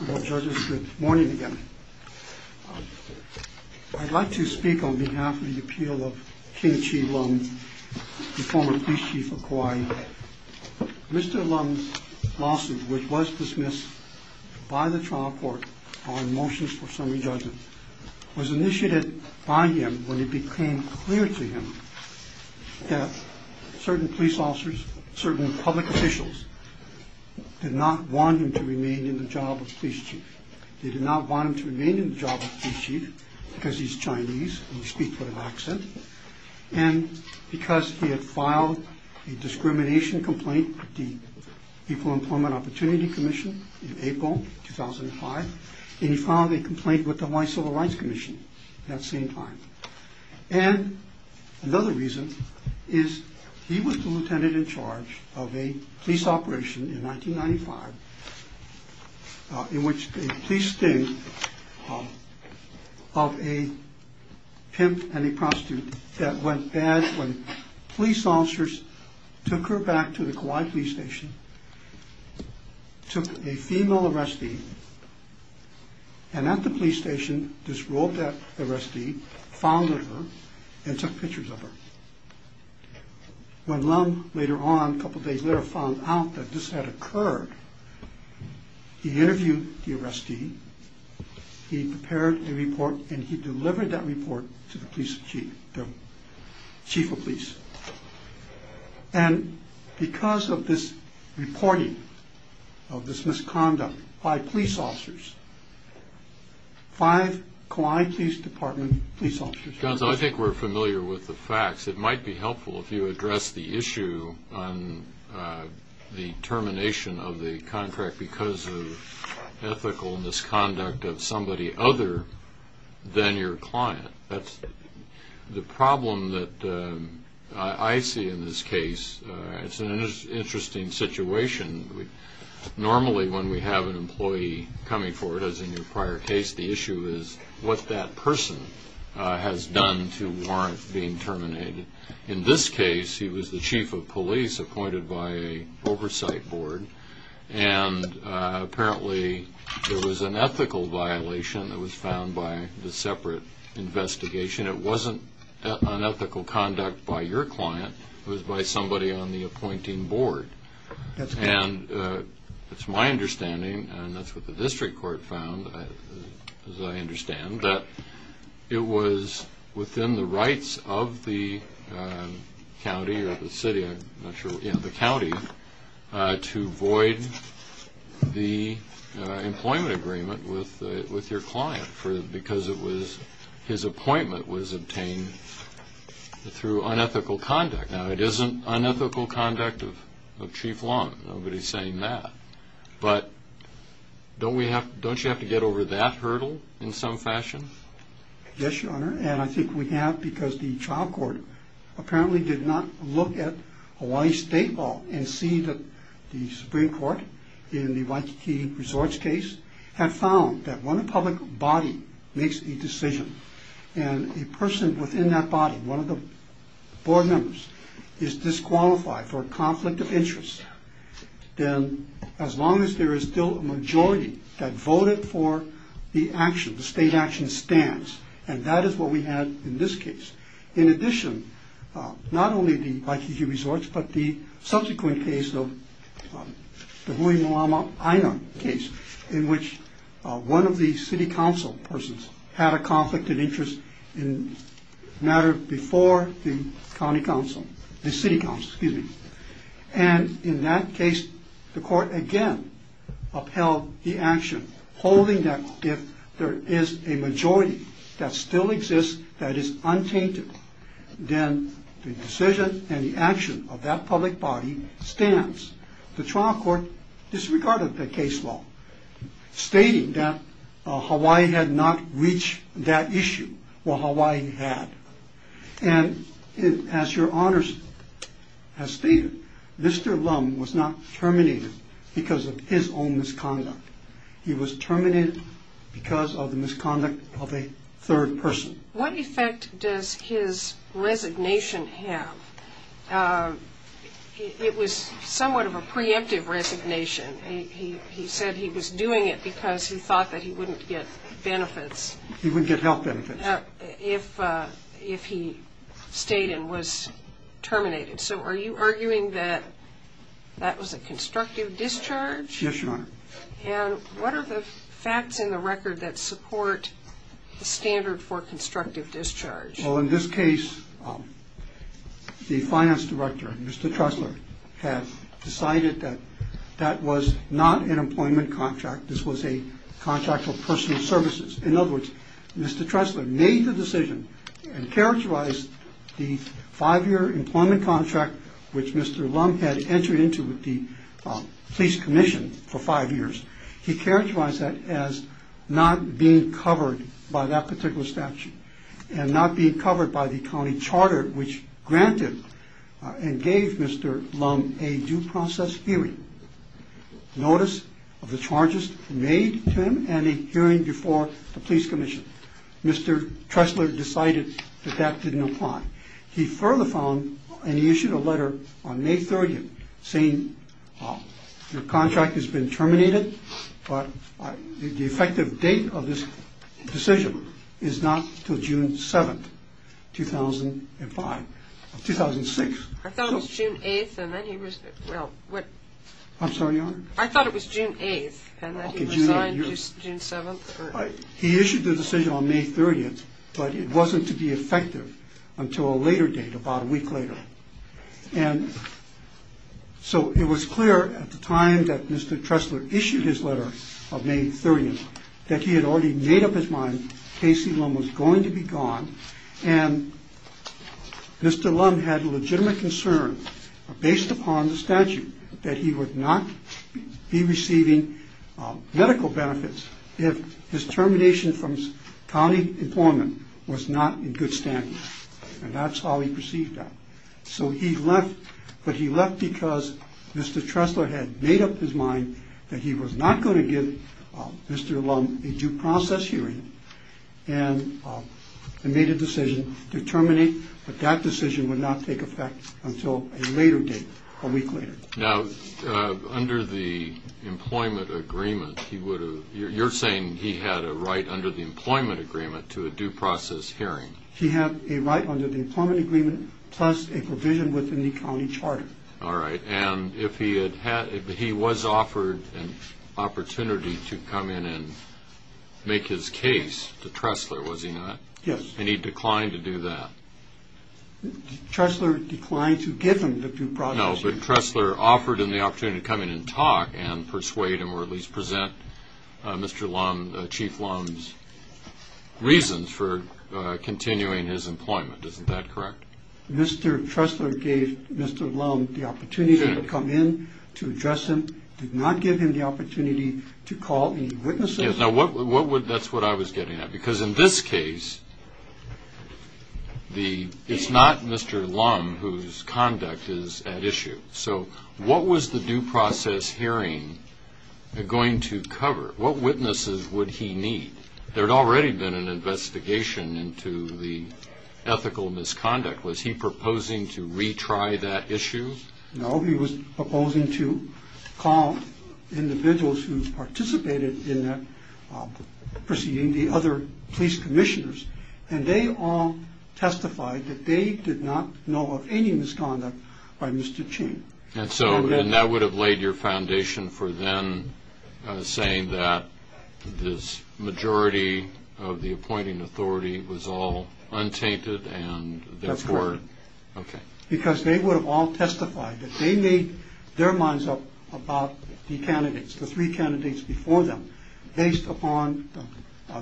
Good morning again. I'd like to speak on behalf of the appeal of King Chi Lum, the former police chief of Kauai. Mr. Lum's lawsuit, which was dismissed by the trial court on motions for summary judgment, was initiated by him when it became clear to him that certain police officers, certain public officials, did not want him to remain in the job of police chief. They did not want him to remain in the job of police chief because he's Chinese and he speaks with an accent, and because he had filed a discrimination complaint with the Equal Employment Opportunity Commission in April 2005, and he filed a complaint with the Hawaii Civil Rights Commission at that same time. And another reason is he was the lieutenant in charge of a police operation in 1995, in which a police sting of a pimp and a prostitute that went bad when police officers took her back to the Kauai police station, took a female arrestee, and at the police station, disrobed that arrestee, found her, and took pictures of her. When Lum later on, a couple days later, found out that this had occurred, he interviewed the arrestee, he prepared a report, and he delivered that report to the police chief, the chief of police. And because of this reporting of this misconduct by police officers, five Kauai Police Department police officers were arrested. Johnson, I think we're familiar with the facts. It might be helpful if you address the issue on the termination of the contract because of ethical misconduct of somebody other than your client. That's the problem that I see in this case. It's an interesting situation. Normally when we have an employee coming forward, as in your prior case, the issue is what that person has done to warrant being terminated. In this case, he was the chief of police appointed by an oversight board, and apparently there was an ethical violation that was found by the separate investigation. It wasn't unethical conduct by your client. It was by somebody on the appointing board. And it's my understanding, and that's what the district court found, as I understand, that it was within the rights of the county or the city, I'm not sure, the county, to void the employment agreement with your client because his appointment was obtained through unethical conduct. Now, it isn't unethical conduct of chief law. Nobody's saying that. But don't you have to get over that hurdle in some fashion? Yes, Your Honor, and I think we have because the trial court apparently did not look at Hawaii State Law and see that the Supreme Court, in the Waikiki Resorts case, had found that when a public body makes a decision and a person within that body, one of the board members, is disqualified for a conflict of interest, then as long as there is still a majority that voted for the action, the state action stance, and that is what we had in this case. In addition, not only the Waikiki Resorts, but the subsequent case of the Hui Malama Aina case, in which one of the city council persons had a conflict of interest in a matter before the county council, the city council, excuse me. And in that case, the court again upheld the action, holding that if there is a majority that still exists that is untainted, then the decision and the action of that public body stands. The trial court disregarded the case law, stating that Hawaii had not reached that issue. Well, Hawaii had. And as your honors have stated, Mr. Lum was not terminated because of his own misconduct. He was terminated because of the misconduct of a third person. What effect does his resignation have? It was somewhat of a preemptive resignation. He said he was doing it because he thought that he wouldn't get benefits. He wouldn't get health benefits. If he stayed and was terminated. So are you arguing that that was a constructive discharge? Yes, your honor. And what are the facts in the record that support the standard for constructive discharge? Well, in this case, the finance director, Mr. Tressler, had decided that that was not an employment contract. This was a contract for personal services. In other words, Mr. Tressler made the decision and characterized the five-year employment contract, which Mr. Lum had entered into with the police commission for five years. He characterized that as not being covered by that particular statute and not being covered by the county charter, which granted and gave Mr. Lum a due process hearing. Notice of the charges made to him and a hearing before the police commission. Mr. Tressler decided that that didn't apply. He further found, and he issued a letter on May 30th saying your contract has been terminated, but the effective date of this decision is not until June 7th, 2005. I thought it was June 8th, and then he resigned June 7th. He issued the decision on May 30th, but it wasn't to be effective until a later date, about a week later. And so it was clear at the time that Mr. Tressler issued his letter on May 30th that he had already made up his mind Casey Lum was going to be gone, and Mr. Lum had legitimate concern based upon the statute that he would not be receiving medical benefits if his termination from county employment was not in good standing. And that's how he perceived that. So he left, but he left because Mr. Tressler had made up his mind that he was not going to give Mr. Lum a due process hearing. And he made a decision to terminate, but that decision would not take effect until a later date, a week later. Now, under the employment agreement, you're saying he had a right under the employment agreement to a due process hearing. He had a right under the employment agreement plus a provision within the county charter. All right. And if he was offered an opportunity to come in and make his case to Tressler, was he not? Yes. And he declined to do that? Tressler declined to give him the due process hearing. No, but Tressler offered him the opportunity to come in and talk and persuade him or at least present Mr. Lum, Chief Lum's reasons for continuing his employment. Isn't that correct? Mr. Tressler gave Mr. Lum the opportunity to come in to address him, did not give him the opportunity to call any witnesses? Yes. That's what I was getting at. Because in this case, it's not Mr. Lum whose conduct is at issue. So what was the due process hearing going to cover? What witnesses would he need? There had already been an investigation into the ethical misconduct. Was he proposing to retry that issue? No, he was proposing to call individuals who participated in that proceeding, the other police commissioners, and they all testified that they did not know of any misconduct by Mr. Ching. And so that would have laid your foundation for them saying that this majority of the appointing authority was all untainted and therefore... That's correct. Okay. Because they would have all testified that they made their minds up about the candidates, the three candidates before them, based upon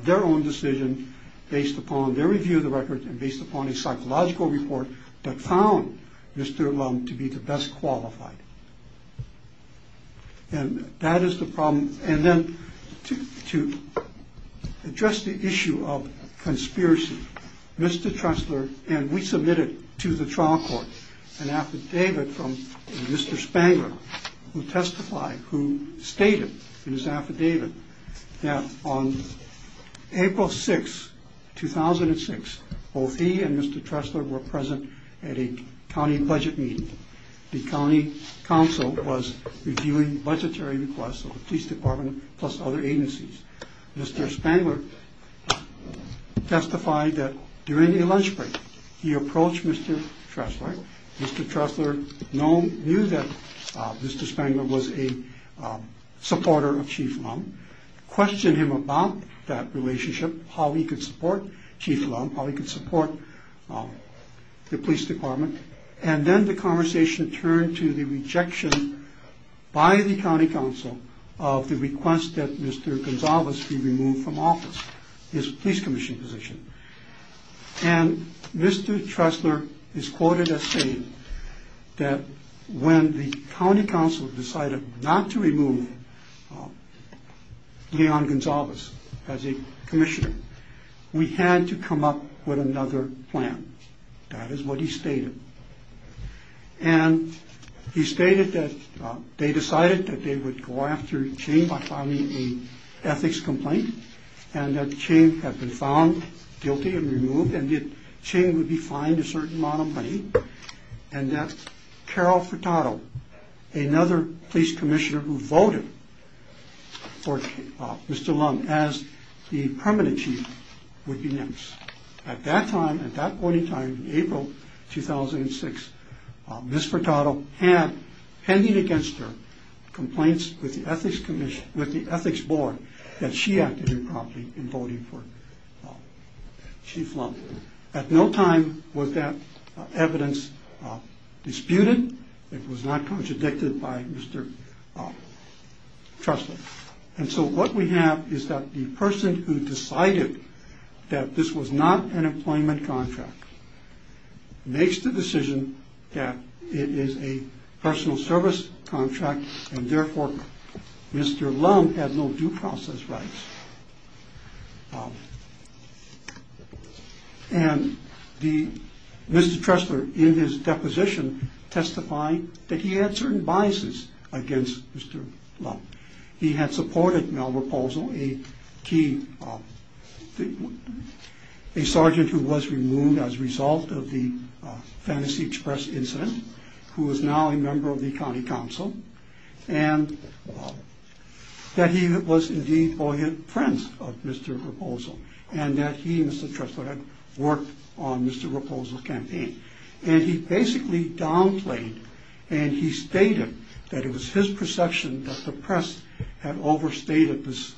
their own decision, based upon their review of the record, and based upon a psychological report that found Mr. Lum to be the best qualified. And that is the problem. And then to address the issue of conspiracy, Mr. Trestler and we submitted to the trial court an affidavit from Mr. Spangler, who testified, who stated in his affidavit that on April 6, 2006, both he and Mr. Trestler were present at a county budget meeting. The county council was reviewing budgetary requests of the police department plus other agencies. Mr. Spangler testified that during a lunch break, he approached Mr. Trestler. Mr. Trestler knew that Mr. Spangler was a supporter of Chief Lum, questioned him about that relationship, how he could support Chief Lum, how he could support the police department. And then the conversation turned to the rejection by the county council of the request that Mr. Gonsalves be removed from office, his police commission position. And Mr. Trestler is quoted as saying that when the county council decided not to remove Leon Gonsalves as a commissioner, we had to come up with another plan. That is what he stated. And he stated that they decided that they would go after Ching by filing an ethics complaint and that Ching had been found guilty and removed and that Ching would be fined a certain amount of money. And that Carol Furtado, another police commissioner who voted for Mr. Lum as the permanent chief, would be next. At that time, at that point in time, April 2006, Ms. Furtado had, pending against her, complaints with the ethics board that she acted improperly in voting for Chief Lum. At no time was that evidence disputed. It was not contradicted by Mr. Trestler. And so what we have is that the person who decided that this was not an employment contract makes the decision that it is a personal service contract and therefore Mr. Lum has no due process rights. And Mr. Trestler, in his deposition, testified that he had certain biases against Mr. Lum. He had supported Mel Raposo, a key, a sergeant who was removed as a result of the Fantasy Express incident, who is now a member of the county council, and that he was indeed Boyan Prince of Mr. Raposo and that he, Mr. Trestler, had worked on Mr. Raposo's campaign. And he basically downplayed and he stated that it was his perception that the press had overstated this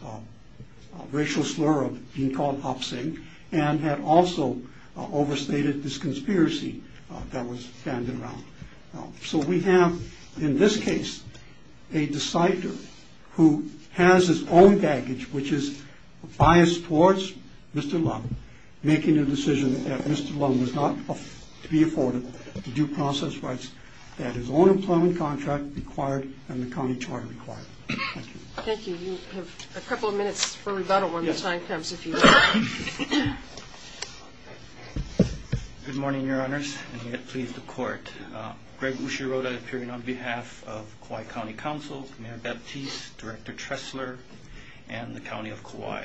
racial slur of being called oppsing and had also overstated this conspiracy that was fanned around. So we have, in this case, a decider who has his own baggage, which is bias towards Mr. Lum, making a decision that Mr. Lum was not to be afforded the due process rights that his own employment contract required and the county charter required. Thank you. Thank you. You have a couple of minutes for rebuttal when the time comes, if you would. Good morning, Your Honors, and may it please the Court. Greg Ushiroda, appearing on behalf of Kauai County Council, Mayor Baptiste, Director Trestler, and the County of Kauai.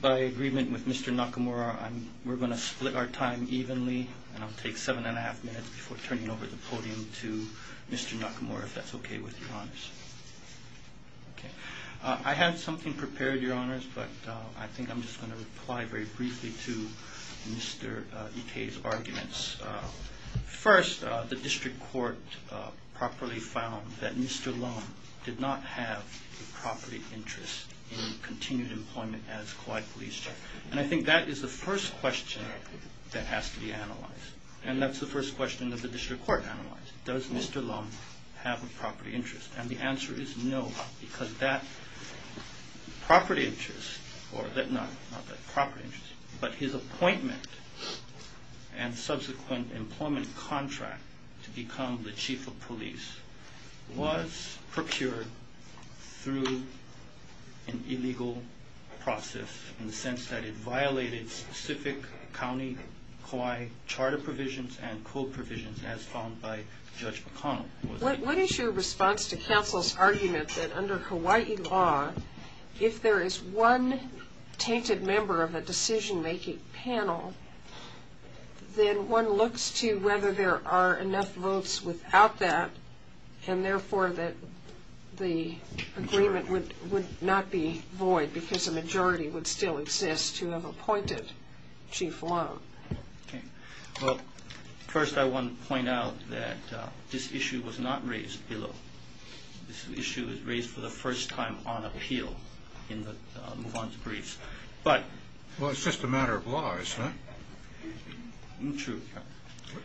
By agreement with Mr. Nakamura, we're going to split our time evenly, and I'll take seven and a half minutes before turning over the podium to Mr. Nakamura, if that's okay with you, Your Honors. Okay. I have something prepared, Your Honors, but I think I'm just going to reply very briefly to Mr. Ikei's arguments. First, the District Court properly found that Mr. Lum did not have a property interest in continued employment as Kauai Police Chief. And I think that is the first question that has to be analyzed, and that's the first question that the District Court analyzed. Does Mr. Lum have a property interest? And the answer is no, because that property interest, or not that property interest, but his appointment and subsequent employment contract to become the Chief of Police was procured through an illegal process, in the sense that it violated specific county Kauai charter provisions and code provisions, as found by Judge McConnell. What is your response to counsel's argument that under Hawaii law, if there is one tainted member of a decision-making panel, then one looks to whether there are enough votes without that, and therefore that the agreement would not be void because a majority would still exist to have appointed Chief Lum? Well, first I want to point out that this issue was not raised below. This issue was raised for the first time on appeal in the move-on to briefs. Well, it's just a matter of law, isn't it? True.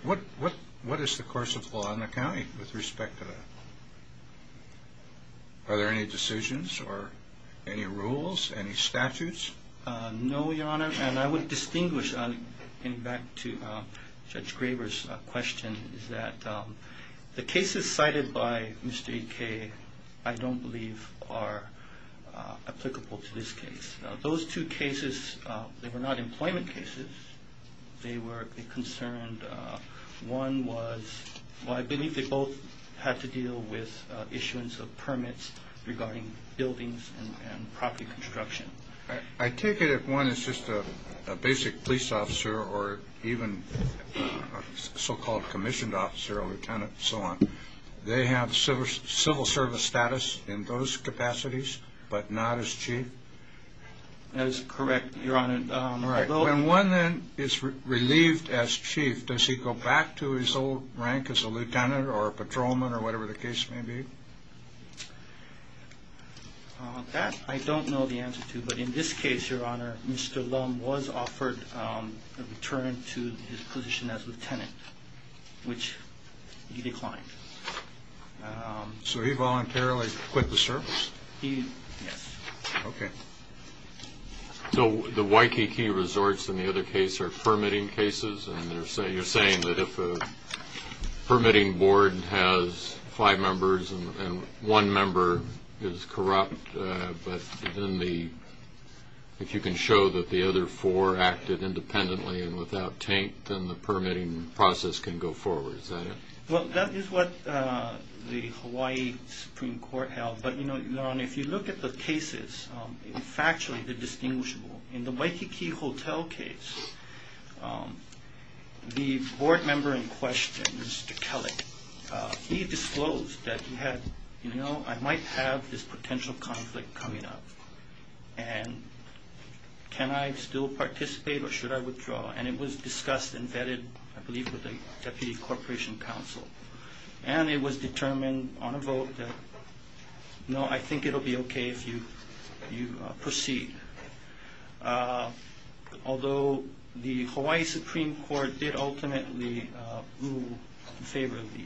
What is the course of law in the county with respect to that? Are there any decisions or any rules, any statutes? No, Your Honor, and I would distinguish, getting back to Judge Graber's question, is that the cases cited by Mr. E.K. I don't believe are applicable to this case. Those two cases, they were not employment cases. They were concerned, one was, well, I believe they both had to deal with issuance of permits regarding buildings and property construction. I take it if one is just a basic police officer or even a so-called commissioned officer or lieutenant and so on, they have civil service status in those capacities but not as Chief? That is correct, Your Honor. All right. When one then is relieved as Chief, does he go back to his old rank as a lieutenant or patrolman or whatever the case may be? That I don't know the answer to, but in this case, Your Honor, Mr. Lum was offered a return to his position as lieutenant, which he declined. So he voluntarily quit the service? He, yes. Okay. So the Waikiki Resorts in the other case are permitting cases, and you're saying that if a permitting board has five members and one member is corrupt, but if you can show that the other four acted independently and without taint, then the permitting process can go forward, is that it? Well, that is what the Hawaii Supreme Court held. But, Your Honor, if you look at the cases, factually they're distinguishable. In the Waikiki Hotel case, the board member in question, Mr. Kelly, he disclosed that he had, you know, I might have this potential conflict coming up, and can I still participate or should I withdraw? And it was discussed and vetted, I believe, with the Deputy Corporation Counsel, and it was determined on a vote that, no, I think it will be okay if you proceed. Although the Hawaii Supreme Court did ultimately boo in favor of the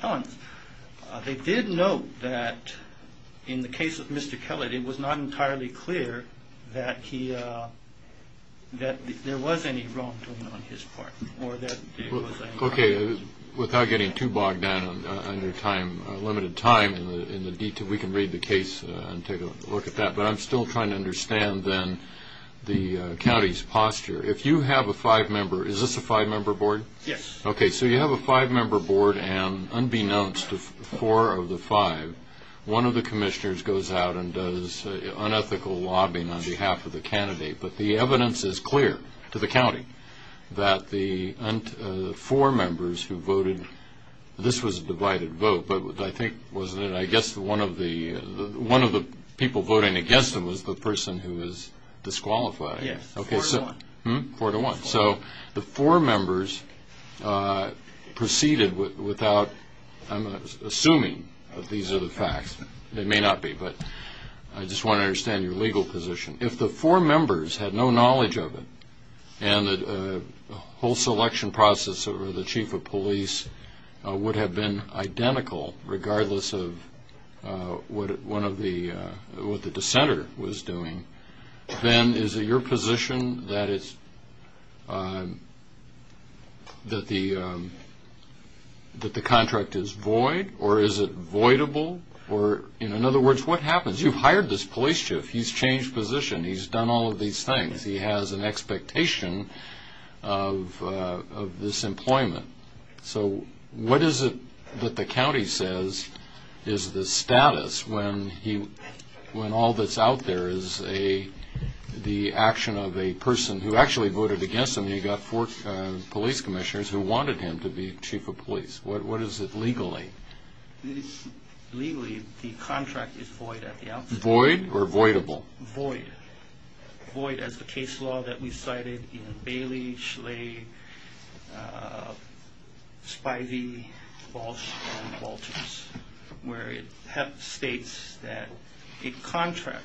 puns, they did note that in the case of Mr. Kelly, it was not entirely clear that there was any wrongdoing on his part. Okay, without getting too bogged down on your time, limited time in the detail, we can read the case and take a look at that. But I'm still trying to understand, then, the county's posture. If you have a five-member – is this a five-member board? Yes. Okay, so you have a five-member board, and unbeknownst to four of the five, one of the commissioners goes out and does unethical lobbying on behalf of the candidate. But the evidence is clear to the county that the four members who voted – this was a divided vote, but I think, wasn't it, I guess one of the people voting against him was the person who was disqualified? Yes, four to one. Four to one. So the four members proceeded without – I'm assuming these are the facts. They may not be, but I just want to understand your legal position. If the four members had no knowledge of it, and the whole selection process over the chief of police would have been identical, regardless of what the dissenter was doing, then is it your position that the contract is void, or is it voidable? Or, in other words, what happens? Because you've hired this police chief, he's changed position, he's done all of these things, he has an expectation of this employment. So what is it that the county says is the status when he – when all that's out there is the action of a person who actually voted against him, and he got four police commissioners who wanted him to be chief of police? What is it legally? Legally, the contract is void at the outset. Void or voidable? Void. Void as the case law that we cited in Bailey, Schley, Spivey, Walsh, and Walters, where it states that a contract,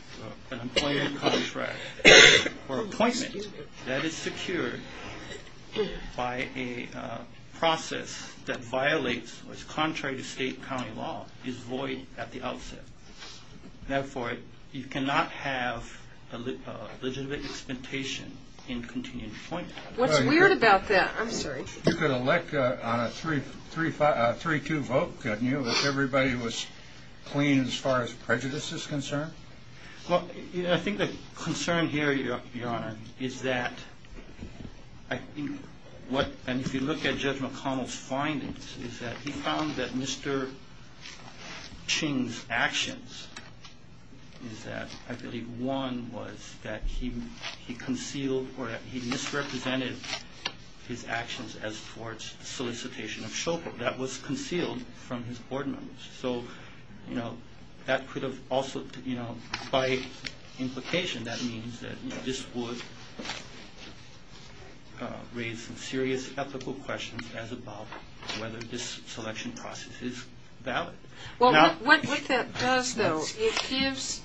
an employment contract, or appointment, that is secured by a process that violates or is contrary to state and county law, is void at the outset. Therefore, you cannot have a legitimate expectation in continued employment. What's weird about that – I'm sorry. You could elect on a 3-2 vote, couldn't you, if everybody was clean as far as prejudice is concerned? Well, I think the concern here, Your Honor, is that I think what – and if you look at Judge McConnell's findings, is that he found that Mr. Ching's actions is that – I believe one was that he concealed or he misrepresented his actions as towards solicitation of chauffeur. That was concealed from his board members. So that could have also – by implication, that means that this would raise some serious ethical questions as about whether this selection process is valid. What that does, though, it gives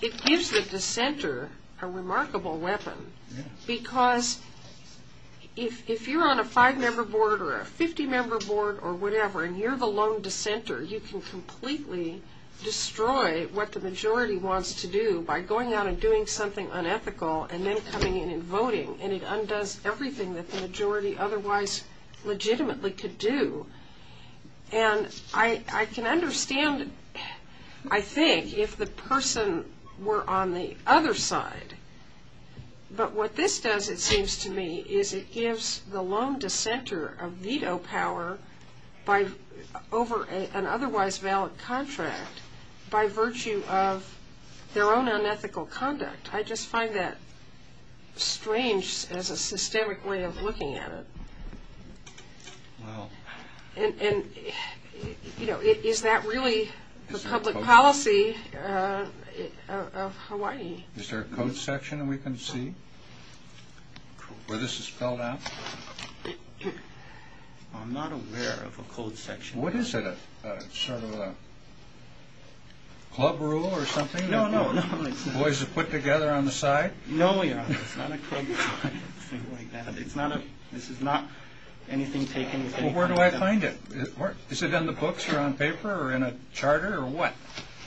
the dissenter a remarkable weapon because if you're on a five-member board or a 50-member board or whatever, and you're the lone dissenter, you can completely destroy what the majority wants to do by going out and doing something unethical and then coming in and voting. And it undoes everything that the majority otherwise legitimately could do. And I can understand, I think, if the person were on the other side. But what this does, it seems to me, is it gives the lone dissenter a veto power over an otherwise valid contract by virtue of their own unethical conduct. I just find that strange as a systemic way of looking at it. And, you know, is that really the public policy of Hawaii? Is there a code section we can see where this is spelled out? I'm not aware of a code section. What is it? Sort of a club rule or something? No, no. Boys are put together on the side? No, Your Honor. It's not a club rule or anything like that. It's not a – this is not anything taken – Well, where do I find it? Is it in the books or on paper or in a charter or what?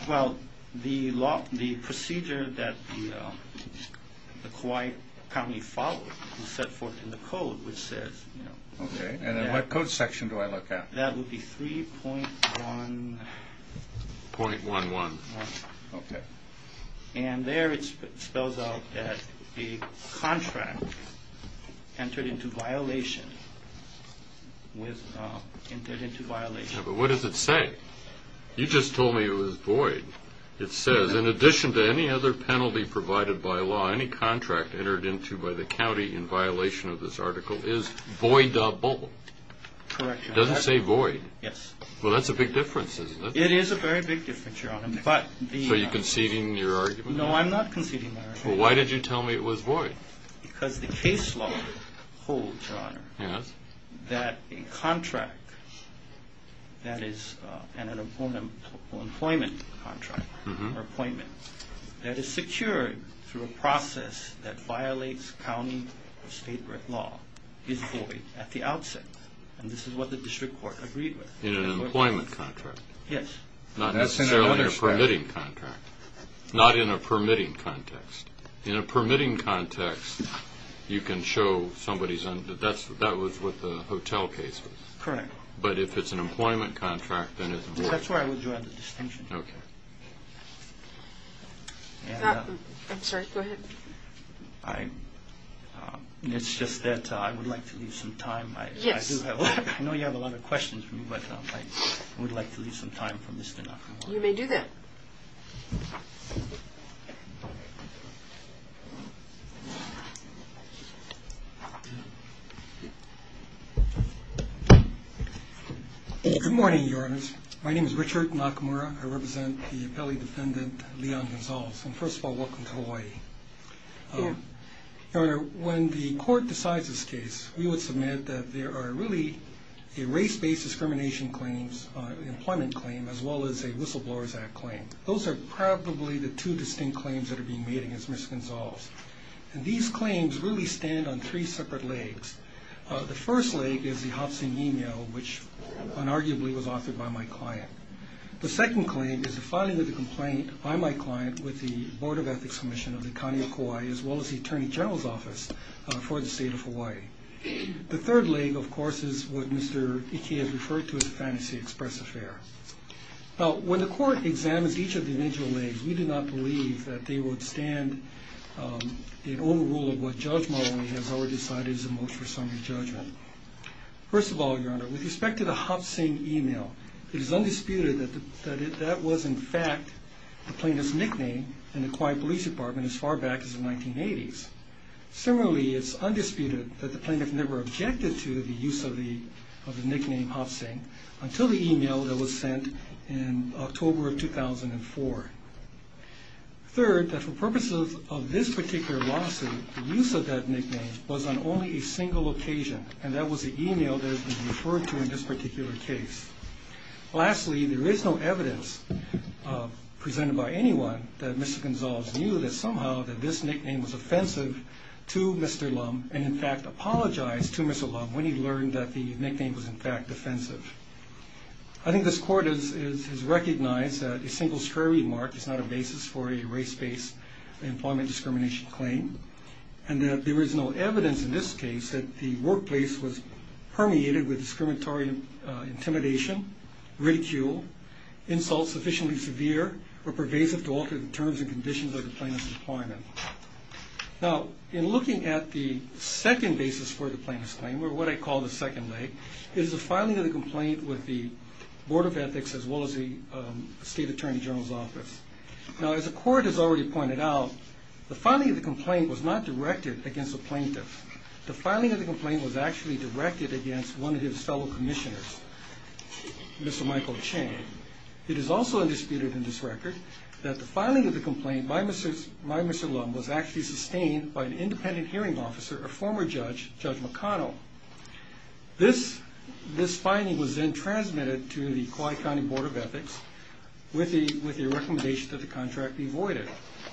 Well, the procedure that the Kauai County followed is set forth in the code, which says – Okay. And in what code section do I look at? That would be 3.1 – .11. Okay. And there it spells out that a contract entered into violation with – entered into violation. Yeah, but what does it say? You just told me it was void. It says, in addition to any other penalty provided by law, any contract entered into by the county in violation of this article is voidable. Correct, Your Honor. It doesn't say void. Yes. Well, that's a big difference, isn't it? It is a very big difference, Your Honor. So you're conceding your argument? Well, why did you tell me it was void? Because the case law holds, Your Honor, that a contract that is an employment contract or appointment that is secured through a process that violates county or state law is void at the outset. And this is what the district court agreed with. In an employment contract. Yes. Not necessarily a permitting contract. Not in a permitting context. In a permitting context, you can show somebody's – that was what the hotel case was. Correct. But if it's an employment contract, then it's a void. That's where I would draw the distinction. Okay. I'm sorry. Go ahead. It's just that I would like to leave some time. Yes. I know you have a lot of questions for me, but I would like to leave some time for Mr. Nakamura. You may do that. Okay. Good morning, Your Honors. My name is Richard Nakamura. I represent the appellee defendant, Leon Gonzalez. And first of all, welcome to Hawaii. Thank you. Your Honor, when the court decides this case, we would submit that there are really a race-based discrimination claim, an employment claim, as well as a Whistleblowers Act claim. Those are probably the two distinct claims that are being made against Ms. Gonzalez. And these claims really stand on three separate legs. The first leg is the Hobson email, which unarguably was authored by my client. The second claim is the filing of the complaint by my client with the Board of Ethics Commission of the County of Kauai, as well as the Attorney General's Office for the State of Hawaii. The third leg, of course, is what Mr. Ike has referred to as a fantasy express affair. Now, when the court examines each of the individual legs, we do not believe that they would stand in overrule of what Judge Marley has already decided is the most reasonable judgment. First of all, Your Honor, with respect to the Hobson email, it is undisputed that that was, in fact, the plaintiff's nickname in the Kauai Police Department as far back as the 1980s. Similarly, it's undisputed that the plaintiff never objected to the use of the nickname Hobson until the email that was sent in October of 2004. Third, that for purposes of this particular lawsuit, the use of that nickname was on only a single occasion, and that was the email that has been referred to in this particular case. Lastly, there is no evidence presented by anyone that Mr. Gonzales knew that somehow that this nickname was offensive to Mr. Lum and, in fact, apologized to Mr. Lum when he learned that the nickname was, in fact, offensive. I think this Court has recognized that a single square remark is not a basis for a race-based employment discrimination claim and that there is no evidence in this case that the workplace was permeated with discriminatory intimidation, ridicule, insult sufficiently severe or pervasive to alter the terms and conditions of the plaintiff's employment. Now, in looking at the second basis for the plaintiff's claim, or what I call the second leg, is the filing of the complaint with the Board of Ethics as well as the State Attorney General's Office. Now, as the Court has already pointed out, the filing of the complaint was not directed against the plaintiff. The filing of the complaint was actually directed against one of his fellow commissioners, Mr. Michael Chang. It is also undisputed in this record that the filing of the complaint by Mr. Lum was actually sustained by an independent hearing officer, a former judge, Judge McConnell. This finding was then transmitted to the Kauai County Board of Ethics with the recommendation that the contract be voided.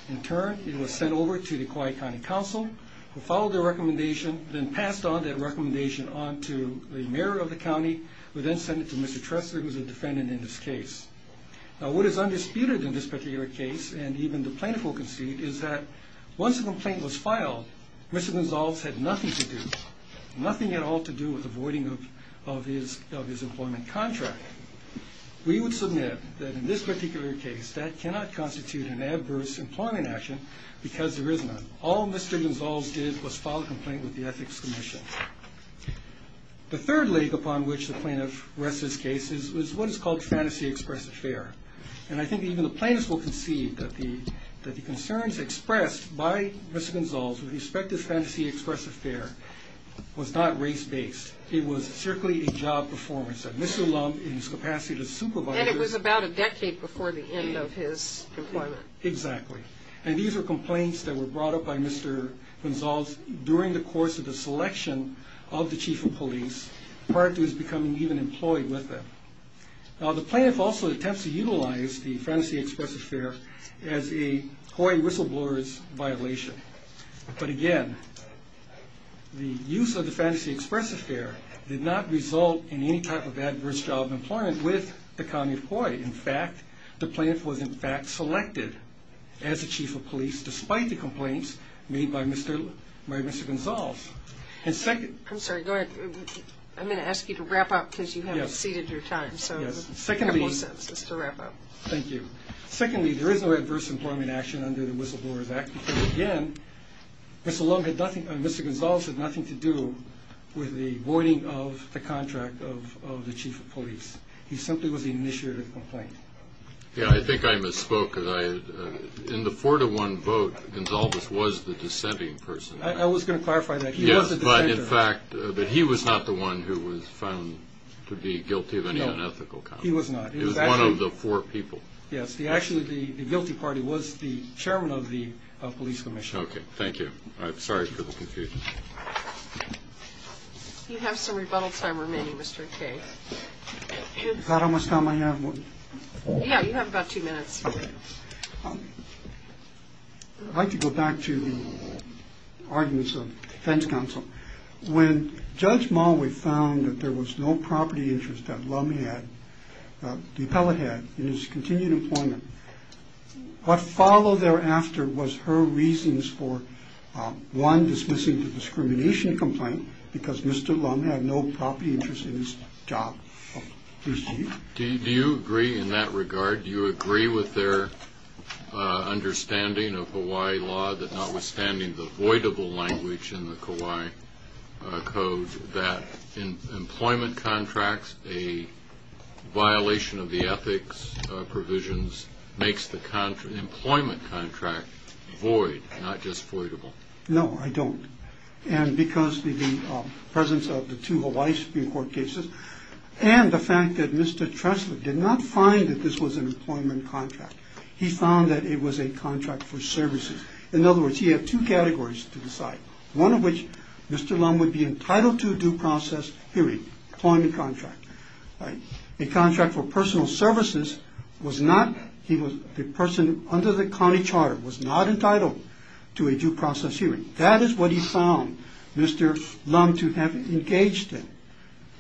In turn, it was sent over to the Kauai County Council, who followed the recommendation, then passed on that recommendation on to the mayor of the county, who then sent it to Mr. Tressler, who is a defendant in this case. Now, what is undisputed in this particular case, and even the plaintiff will concede, is that once the complaint was filed, Mr. Gonsalves had nothing to do, nothing at all to do with the voiding of his employment contract. We would submit that in this particular case, that cannot constitute an adverse employment action because there is none. All Mr. Gonsalves did was file a complaint with the Ethics Commission. The third leg upon which the plaintiff rests his case is what is called fantasy express affair. And I think even the plaintiffs will concede that the concerns expressed by Mr. Gonsalves with the expected fantasy express affair was not race-based. It was certainly a job performance of Mr. Lum in his capacity to supervise. And it was about a decade before the end of his employment. Exactly. And these were complaints that were brought up by Mr. Gonsalves during the course of the selection of the chief of police, prior to his becoming even employed with them. Now, the plaintiff also attempts to utilize the fantasy express affair as a COI whistleblower's violation. But again, the use of the fantasy express affair did not result in any type of adverse job employment with the county of COI. In fact, the plaintiff was, in fact, selected as the chief of police, despite the complaints made by Mr. Gonsalves. I'm sorry, go ahead. I'm going to ask you to wrap up because you have exceeded your time. Yes. So a couple of sentences to wrap up. Thank you. Secondly, there is no adverse employment action under the Whistleblowers Act because, again, Mr. Gonsalves had nothing to do with the voiding of the contract of the chief of police. He simply was the initiator of the complaint. Yeah, I think I misspoke. In the four-to-one vote, Gonsalves was the dissenting person. I was going to clarify that. He was the dissenter. Yes, but, in fact, he was not the one who was found to be guilty of any unethical conduct. No, he was not. He was one of the four people. Yes. Actually, the guilty party was the chairman of the police commission. Okay. Thank you. I'm sorry for the confusion. You have some rebuttal time remaining, Mr. K. Is that how much time I have? Yeah, you have about two minutes. Okay. I'd like to go back to the arguments of the defense counsel. When Judge Mulway found that there was no property interest at Lumhead, the appellate head, in his continued employment, what followed thereafter was her reasons for, one, dismissing the discrimination complaint, because Mr. Lumhead had no property interest in his job. Do you agree in that regard? Do you agree with their understanding of Hawaii law, that notwithstanding the avoidable language in the Kauai Code, that employment contracts, a violation of the ethics provisions, makes the employment contract void, not just avoidable? No, I don't. And because of the presence of the two Hawaii Supreme Court cases and the fact that Mr. Tresler did not find that this was an employment contract, he found that it was a contract for services. In other words, he had two categories to decide, one of which Mr. Lum would be entitled to a due process hearing, employment contract. A contract for personal services was not, the person under the county charter was not entitled to a due process hearing. That is what he found Mr. Lum to have engaged in,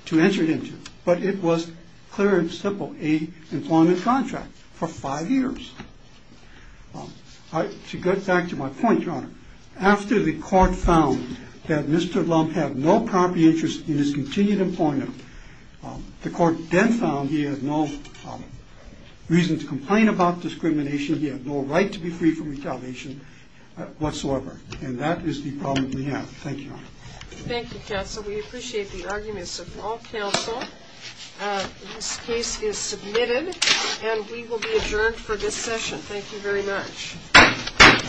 to enter into. But it was clear and simple, a employment contract for five years. To get back to my point, Your Honor, after the court found that Mr. Lum had no property interest in his continued employment, the court then found he had no reason to complain about discrimination, he had no right to be free from retaliation whatsoever, and that is the problem we have. Thank you, Your Honor. Thank you, counsel. We appreciate the arguments of all counsel. This case is submitted and we will be adjourned for this session. Thank you very much.